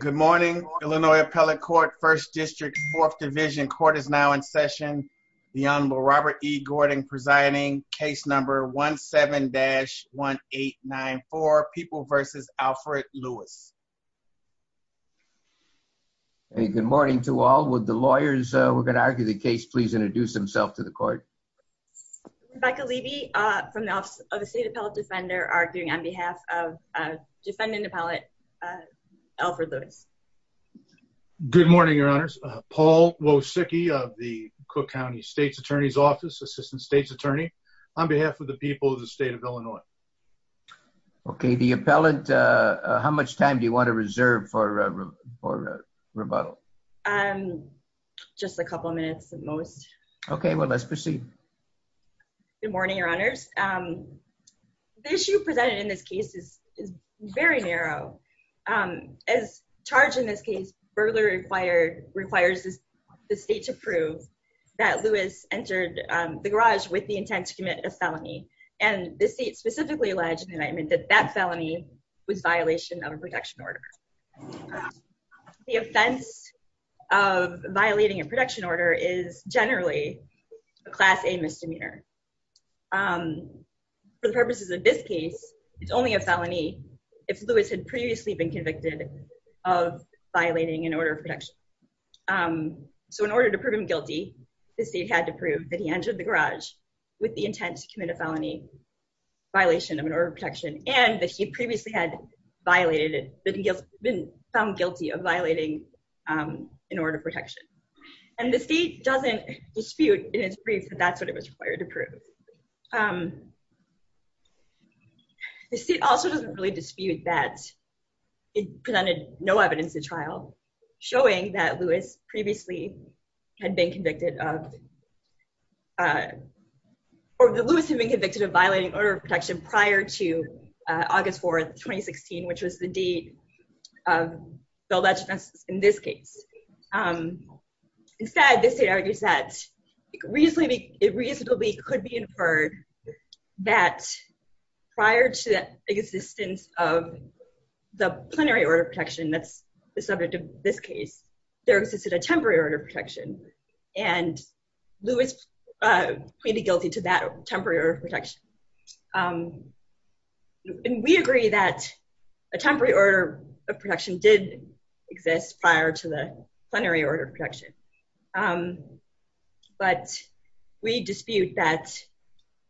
Good morning, Illinois Appellate Court, 1st District, 4th Division. Court is now in session. The Honorable Robert E. Gordon presiding, case number 17-1894, People v. Alfred Lewis. Good morning to all. Would the lawyers who are going to argue the case please introduce themselves to the court? Rebecca Levy from the Office of the State Appellate Defender, arguing on behalf of defendant appellate, Alfred Lewis. Good morning, Your Honors. Paul Wosicki of the Cook County State's Attorney's Office, Assistant State's Attorney, on behalf of the people of the state of Illinois. Okay, the appellant, how much time do you want to reserve for rebuttal? Just a couple minutes at most. Okay, well let's proceed. Good morning, Your Honors. The issue presented in this case is very narrow. As charged in this case, burglary requires the state to prove that Lewis entered the garage with the intent to commit a felony, and the state specifically alleged in the indictment that that felony was a violation of a protection order. The offense of violating a protection order is generally a Class A misdemeanor. For the purposes of this case, it's only a case where Lewis had previously been convicted of violating an order of protection. So in order to prove him guilty, the state had to prove that he entered the garage with the intent to commit a felony violation of an order of protection, and that he previously had violated it, that he had been found guilty of violating an order of protection. And the state doesn't dispute in its brief that that's what it was required to prove. The state also doesn't really dispute that it presented no evidence to trial showing that Lewis previously had been convicted of, or that Lewis had been convicted of violating order of protection prior to August 4th, 2016, which was the date of the alleged offense in this case. Instead, the state argues that it reasonably could be inferred that prior to the existence of the plenary order of protection that's the subject of this case, there existed a temporary order of protection, and Lewis pleaded guilty to that temporary order of protection. And we agree that a temporary order of protection did exist prior to the plenary order of protection, but we dispute that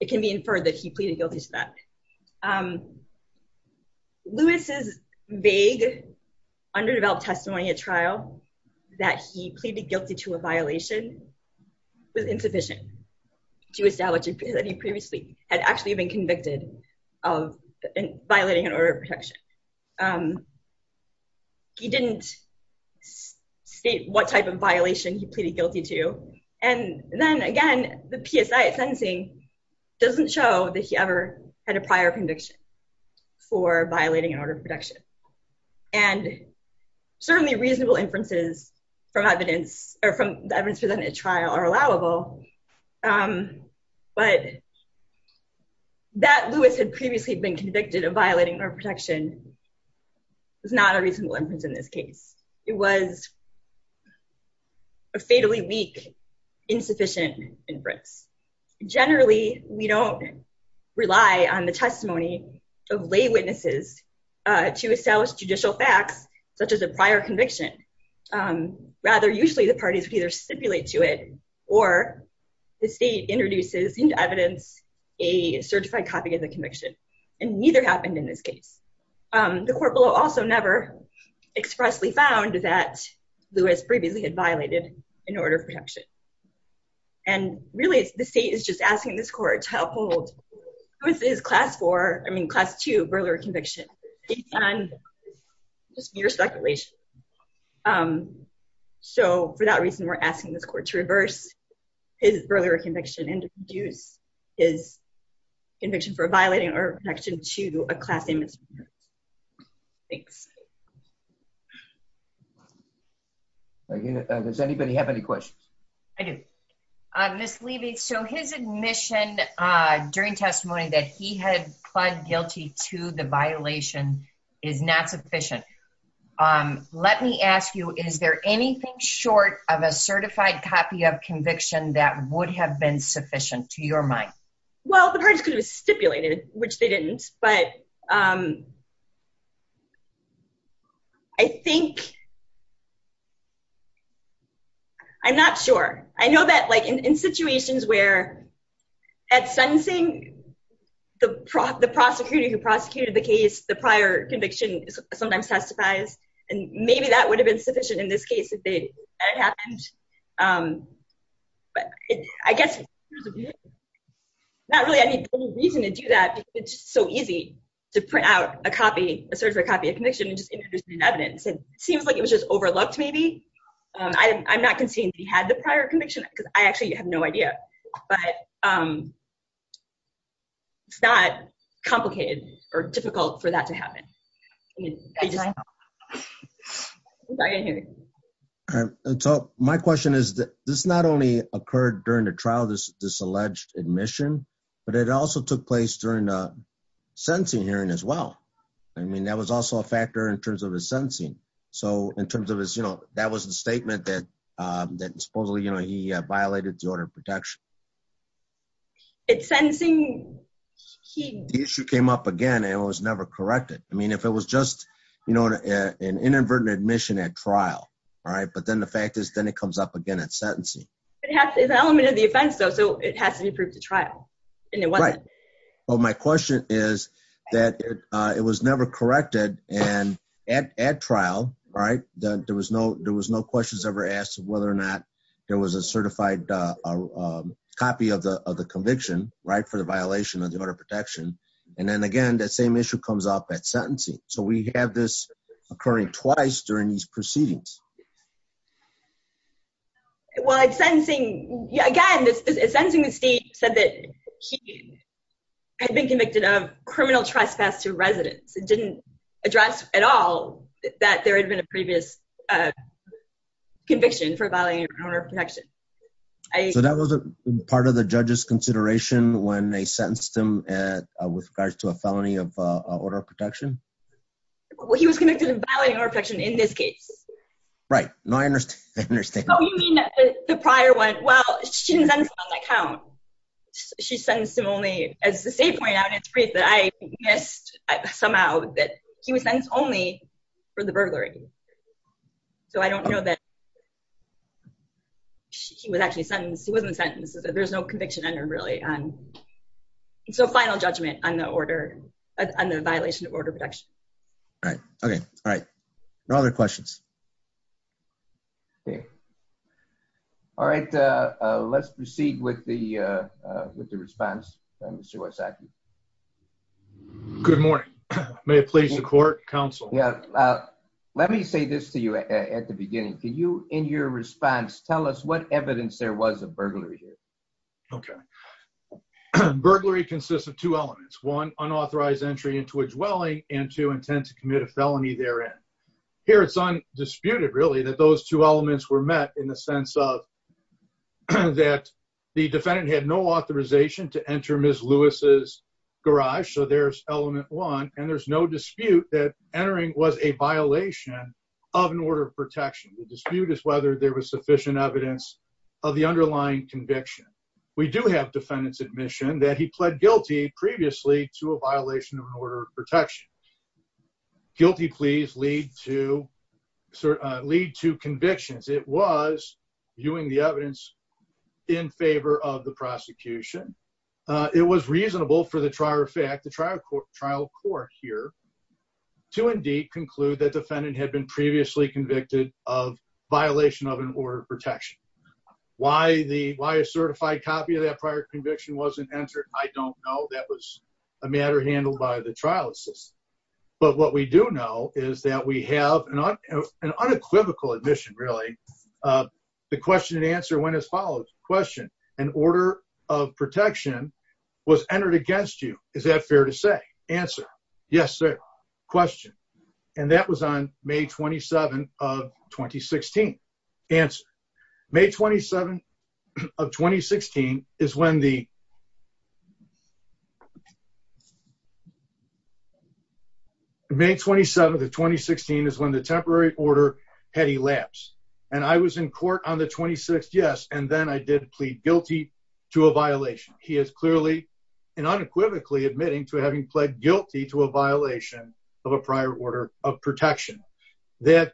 it can be inferred that he pleaded guilty to that. Lewis's vague, underdeveloped testimony at trial that he pleaded guilty to a violation was insufficient to establish that he previously had actually been convicted of violating an order of protection. He didn't state what type of violation he pleaded guilty to, and then again, the PSI at sentencing doesn't show that he ever had a prior conviction for violating an order of protection. And certainly reasonable inferences from evidence or from the evidence presented at trial are allowable, but that Lewis had previously been convicted of violating an order of protection is not a reasonable inference in this case. It was a fatally weak, insufficient inference. Generally, we don't rely on the testimony of lay witnesses to establish judicial facts, such as a prior conviction. Rather, usually the parties would either stipulate to it, or the state introduces into evidence a certified copy of the conviction, and neither happened in this case. The court justly found that Lewis previously had violated an order of protection. And really, the state is just asking this court to uphold his class four, I mean, class two burglary conviction based on just mere speculation. So for that reason, we're asking this court to reverse his burglary conviction and introduce his conviction for a unit. Does anybody have any questions? I do. I'm misleading. So his admission during testimony that he had pled guilty to the violation is not sufficient. Let me ask you, is there anything short of a certified copy of conviction that would have been sufficient to Well, the parties could have stipulated which they didn't, but I think I'm not sure. I know that like in situations where at sentencing, the prosecutor who prosecuted the case, the prior conviction sometimes testifies, and maybe that would have been sufficient in this case. But I guess not really any reason to do that. It's so easy to print out a copy, a certified copy of conviction and just introduce it in evidence. It seems like it was just overlooked, maybe. I'm not conceding he had the prior conviction, because I actually have no idea. But it's not complicated or difficult for that to happen. So my question is that this not only occurred during the trial, this alleged admission, but it also took place during the sentencing hearing as well. I mean, that was also a factor in terms of his sentencing. So in terms of his, you know, that was the statement that, that supposedly, you know, he violated the order of protection. It's sentencing. The issue came up again, and it was never corrected. I mean, if it was just, you know, an inadvertent admission at trial, all right, but then the fact is, then it comes up again at sentencing. It's an element of the offense, though, so it has to be proved at trial. Well, my question is that it was never corrected. And at trial, right, there was no, there was no questions ever asked whether or not there was a certified copy of the conviction, right, for the violation of the order of protection. And then again, that same issue comes up at sentencing. So we have this occurring twice during these proceedings. Well, at sentencing, again, at sentencing the state said that he had been convicted of criminal trespass to residents. It didn't address at all that there had been a previous conviction for violating the order of protection. So that was a part of the judge's consideration when they sentenced him with regards to a felony of order of protection? Well, he was convicted of violating order of protection in this case. Right. No, I understand. Oh, you mean the prior one? Well, she didn't sentence him on that count. She sentenced him only, as the state pointed out in its brief that I missed somehow, that he was sentenced only for the burglary. So I don't know that he was actually sentenced. He wasn't sentenced. There's no conviction under really. So final judgment on the order, on the violation of order of protection. Right. Okay. All right. No other questions. Okay. All right. Let's proceed with the with the response. Mr. Wysocki. Good morning. May it please the court, counsel? Yeah. Let me say this to you at the beginning. Can you in your response, tell us what evidence there was of burglary here? Okay. Burglary consists of two elements. One, unauthorized entry into a dwelling and two, intent to commit a felony therein. Here it's undisputed, really, that those two elements were met in the sense of that the defendant had no authorization to enter Ms. Lewis's garage. So there's element one. And there's no dispute that entering was a violation of an order of protection. The dispute is whether there was sufficient evidence of the underlying conviction. We do have defendants admission that he pled guilty previously to a violation of order of protection. Guilty pleas lead to convictions. It was viewing the evidence in favor of the prosecution. It was reasonable for the trial court here to indeed conclude that defendant had been previously convicted of violation of an order of protection. Why a certified copy of that prior conviction wasn't entered, I don't know. That was a matter handled by the trial assistant. But what we do know is that we have an unequivocal admission, really, the question and answer went as follows. Question. An order of protection was entered against you. Is that fair to say? Answer. Yes, sir. Question. And that was on May 27 of 2016. Answer. May 27 of 2016 is when the May 27 of 2016 is when the temporary order had elapsed and I was in court on the 26th. Yes. And then I did plead guilty to a violation. He is clearly and unequivocally admitting to having pled guilty to a violation of a prior order of protection that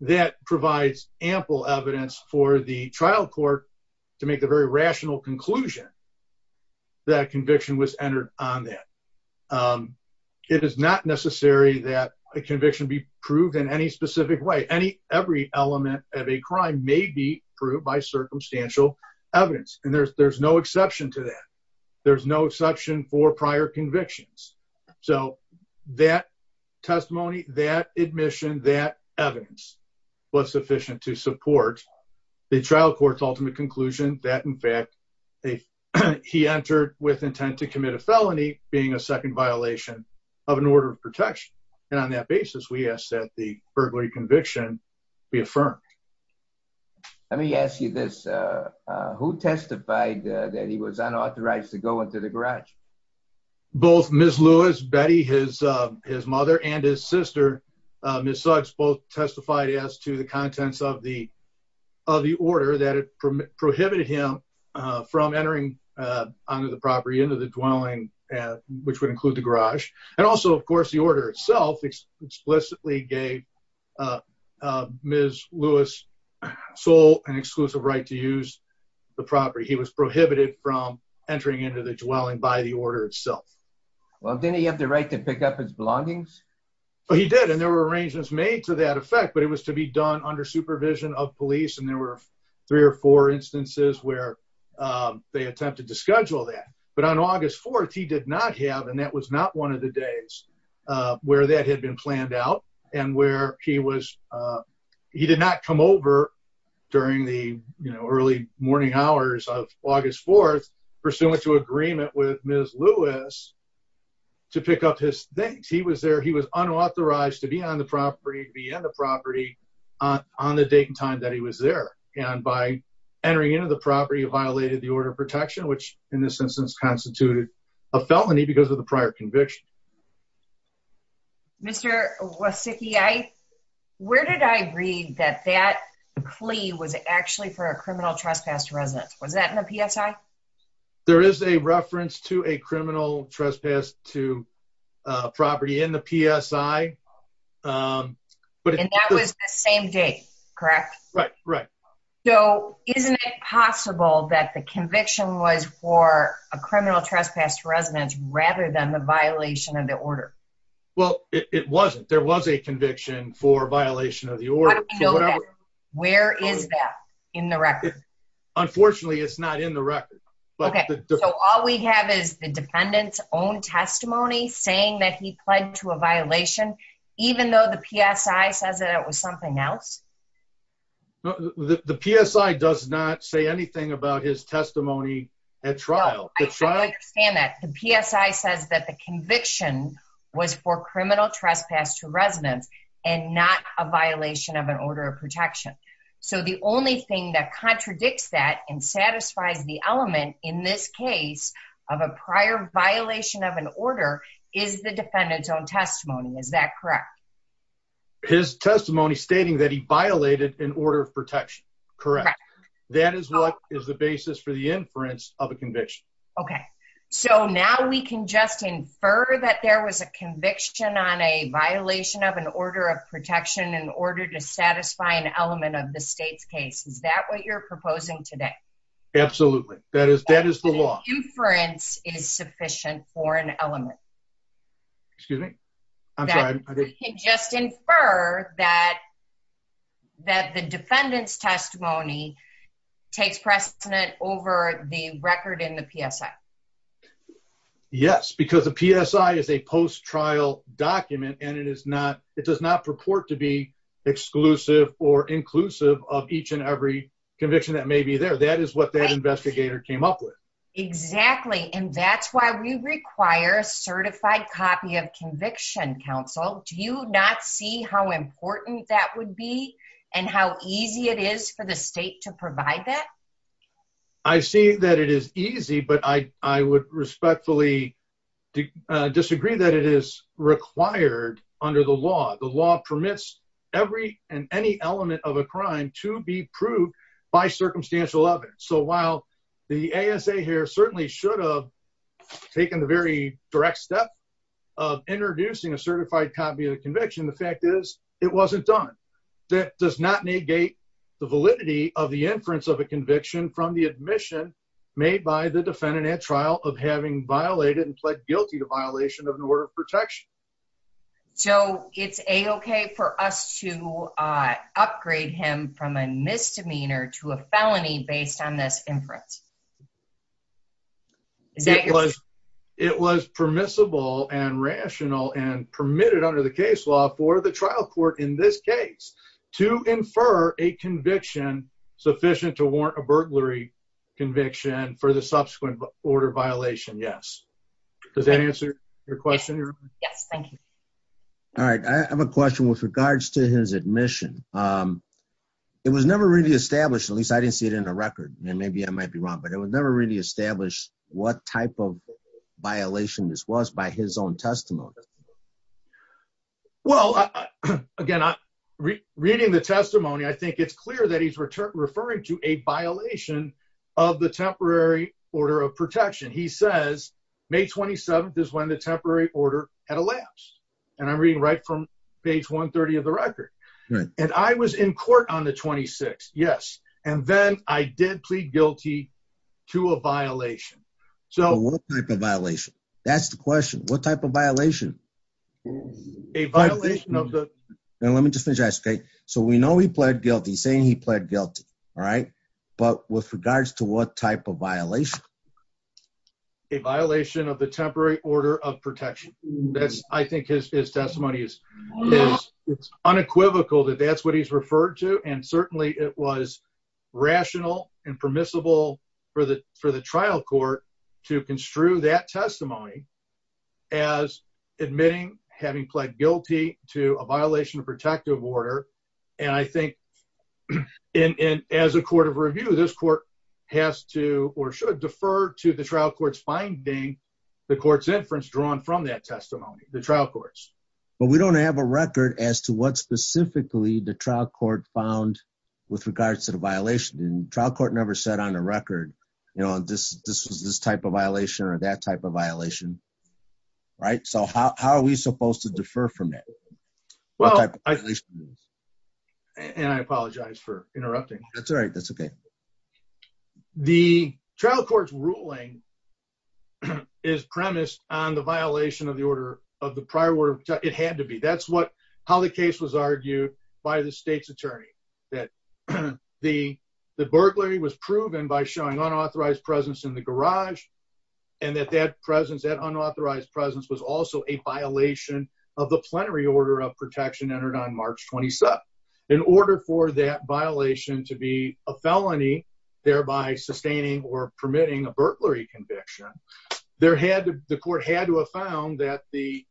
that provides ample evidence for the trial court to make the very rational conclusion that conviction was entered on that. It is not necessary that a conviction be proved in any specific way. Every element of a crime may be proved by circumstantial evidence. And there's no exception to that. There's no exception for prior convictions. So that testimony, that admission, that evidence was sufficient to support the trial court's ultimate conclusion that, in fact, he entered with intent to commit a felony being a second violation of an order of protection. And on that basis, we ask that the burglary conviction be affirmed. Let me ask you this. Who testified that he was unauthorized to go into the garage? Both Ms. Lewis, Betty, his mother, and his sister, Ms. Suggs, both testified as to the contents of the order that it prohibited him from entering onto the property, into the dwelling, which would include the garage. And also, of course, the order itself explicitly gave Ms. Lewis sole and exclusive right to use the property. He was prohibited from entering into the dwelling by the order itself. Well, didn't he have the right to pick up his belongings? Well, he did, and there were arrangements made to that effect, but it was to be done under supervision of police, and there were three or four instances where they attempted to schedule that. But on August 4th, he did not have, and that was not one of the days where that had been planned out, and where he was, he did not come over during the, you know, early morning hours of August 4th, pursuant to agreement with Ms. Lewis to pick up his things. He was there, he was unauthorized to be on the property, to be in the property on the date and time that he was there. And by entering into the property, it violated the order of protection, which in this instance constituted a felony because of the prior conviction. Mr. Wasicki, where did I read that that plea was actually for a criminal trespass resident? Was that in the PSI? There is a reference to a criminal trespass to property in the PSI, but... And that was the same date, correct? Right, right. So, isn't it possible that the conviction was for a criminal trespass resident rather than the violation of the order? Well, it wasn't. There was a conviction for that, but it was not in the record. Okay, so all we have is the defendant's own testimony saying that he pled to a violation, even though the PSI says that it was something else? The PSI does not say anything about his testimony at trial. I understand that. The PSI says that the conviction was for criminal trespass to residents, and not a violation of an order of protection. So, the only thing that satisfies the element in this case of a prior violation of an order is the defendant's own testimony. Is that correct? His testimony stating that he violated an order of protection. Correct. That is what is the basis for the inference of a conviction. Okay, so now we can just infer that there was a conviction on a violation of an order of protection in order to satisfy an element of the state's case. Is that what you're proposing today? Absolutely. That is the law. The inference is sufficient for an element. Excuse me? I'm sorry. We can just infer that the defendant's testimony takes precedent over the record in the PSI. Yes, because the PSI is a post-trial document, and it does not purport to be exclusive or inclusive of each and every conviction that may be there. That is what that investigator came up with. Exactly, and that's why we require a certified copy of Conviction Counsel. Do you not see how important that would be, and how easy it is for the state to provide that? I see that it is easy, but I would respectfully disagree that it is required under the law. The law permits every and any element of a crime to be proved by circumstantial evidence. So while the ASA here certainly should have taken the very direct step of introducing a certified copy of the conviction, the fact is it wasn't done. That does not negate the validity of the inference of a conviction from the admission made by the defendant at trial of having violated and pled guilty to violation of an order of protection. So it's a-okay for us to upgrade him from a misdemeanor to a felony based on this inference? It was permissible and rational and permitted under the case law for the trial court in this case to infer a conviction sufficient to warrant a burglary conviction for the subsequent order violation, yes. Does that answer your question? Yes, thank you. All right, I have a question with regards to his admission. It was never really established, at least I didn't see it in the record, and maybe I might be wrong, but it was never really established what type of violation this was by his own testimony. Well, again, reading the testimony, I think it's clear that he's referring to a violation of the temporary order of protection. He says May 27th is when the temporary order had elapsed, and I'm reading right from page 130 of the record. And I was in court on the 26th, yes, and then I did plead guilty to a violation. What type of violation? That's the question. What type of violation? A violation of the- Let me just finish this, okay? So we know he pled guilty, saying he pled guilty, all right? But with regards to what type of violation? A violation of the temporary order of protection. I think his testimony is unequivocal that that's what he's referred to, and certainly it was rational and permissible for the trial court to construe that testimony as admitting having pled guilty to a violation of protective order. And I think, as a court of review, this court has to, or should, defer to the trial court's finding the court's inference drawn from that testimony, the trial court's. But we don't have a record as to what specifically the trial court found with regards to the violation. The trial court never said on the record, you know, this was this type of violation or that type of violation, right? So how are we supposed to defer from that? What type of violation? And I apologize for interrupting. That's all right. That's okay. The trial court's ruling is premised on the violation of the prior order of protection. It had to be. That's how the case was argued by the state's attorney, that the burglary was proven by showing unauthorized presence in the garage, and that that unauthorized presence was also a violation of the plenary order of protection entered on March 27th. In order for that violation to be a felony, thereby sustaining or permitting a burglary conviction, the court had to have found that a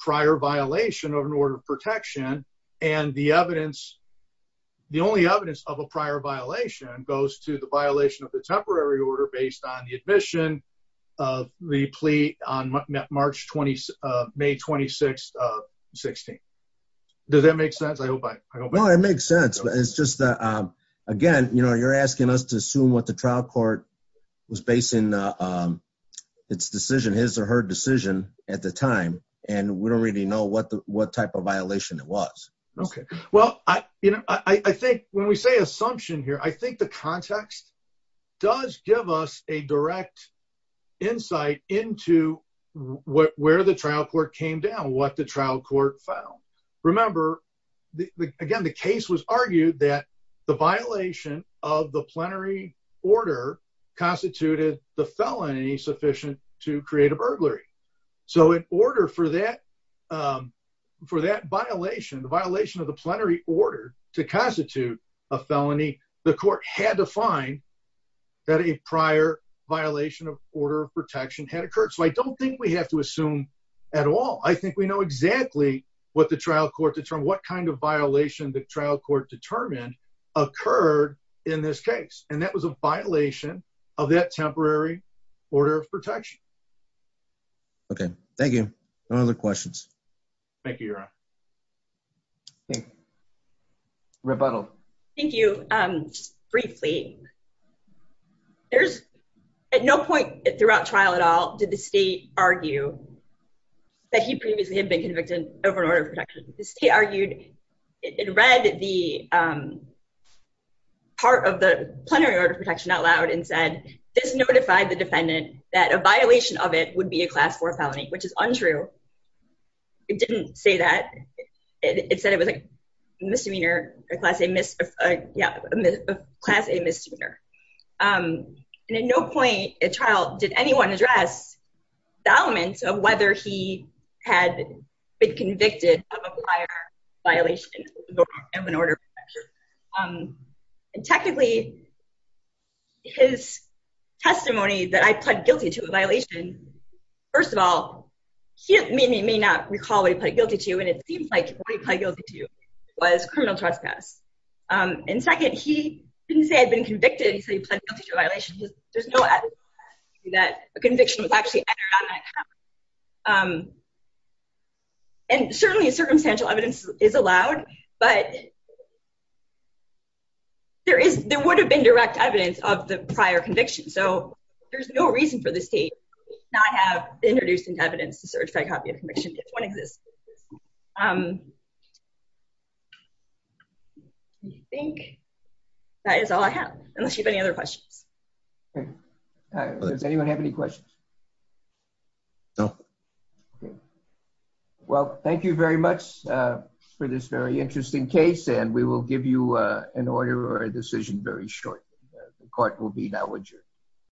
prior violation of an order of protection, and the evidence, the only evidence of a prior violation, goes to the violation of the temporary order based on the admission of the plea on May 26th of 2016. Does that make sense? I hope I made sense. It's just that, again, you know, you're asking us to assume what the trial court was basing its decision, his or her decision at the time, and we don't really know what the what type of violation it was. Okay, well, I think when we say assumption here, I think the context does give us a direct insight into where the trial court came down, what the trial court found. Remember, again, the case was argued that the violation of the plenary order constituted the felony sufficient to create a burglary. So in order for that, for that violation, the violation of the plenary order to constitute a felony, the court had to find that a prior violation of order of protection had occurred. So I don't think we have to assume at all. I think we know exactly what the trial court determined, what kind of violation the trial court determined occurred in this case, and that was a violation of that temporary order of protection. Okay, thank you. Any other questions? Thank you, Your Honor. Rebuttal. Thank you. Briefly, there's at no point throughout trial at all did the state argue that he previously had been convicted over an order of protection. The state argued, it read the part of the plenary order of protection out loud and said, this notified the defendant that a violation of it would be a class four felony, which is untrue. It didn't say that. It said it was a misdemeanor, a class A misdemeanor. And at no point at trial did anyone address the elements of whether he had been convicted of a prior violation of an order of protection. And technically, his testimony that I pled guilty to a violation, first of all, he may not recall what he pled guilty to, and it seems like what he pled guilty to was criminal trespass. And second, he didn't say he had been convicted, he said he pled guilty to a violation. There's no evidence that a conviction was actually entered on that copy. And certainly, circumstantial evidence is allowed, but there would have been direct evidence of the prior conviction. So there's no reason for the state to not have introduced into evidence the search by copy of conviction, if one exists. I think that is all I have, unless you have any other questions. Does anyone have any questions? No. Well, thank you very much for this very interesting case, and we will give you an order or a decision very shortly. The court will be now adjourned.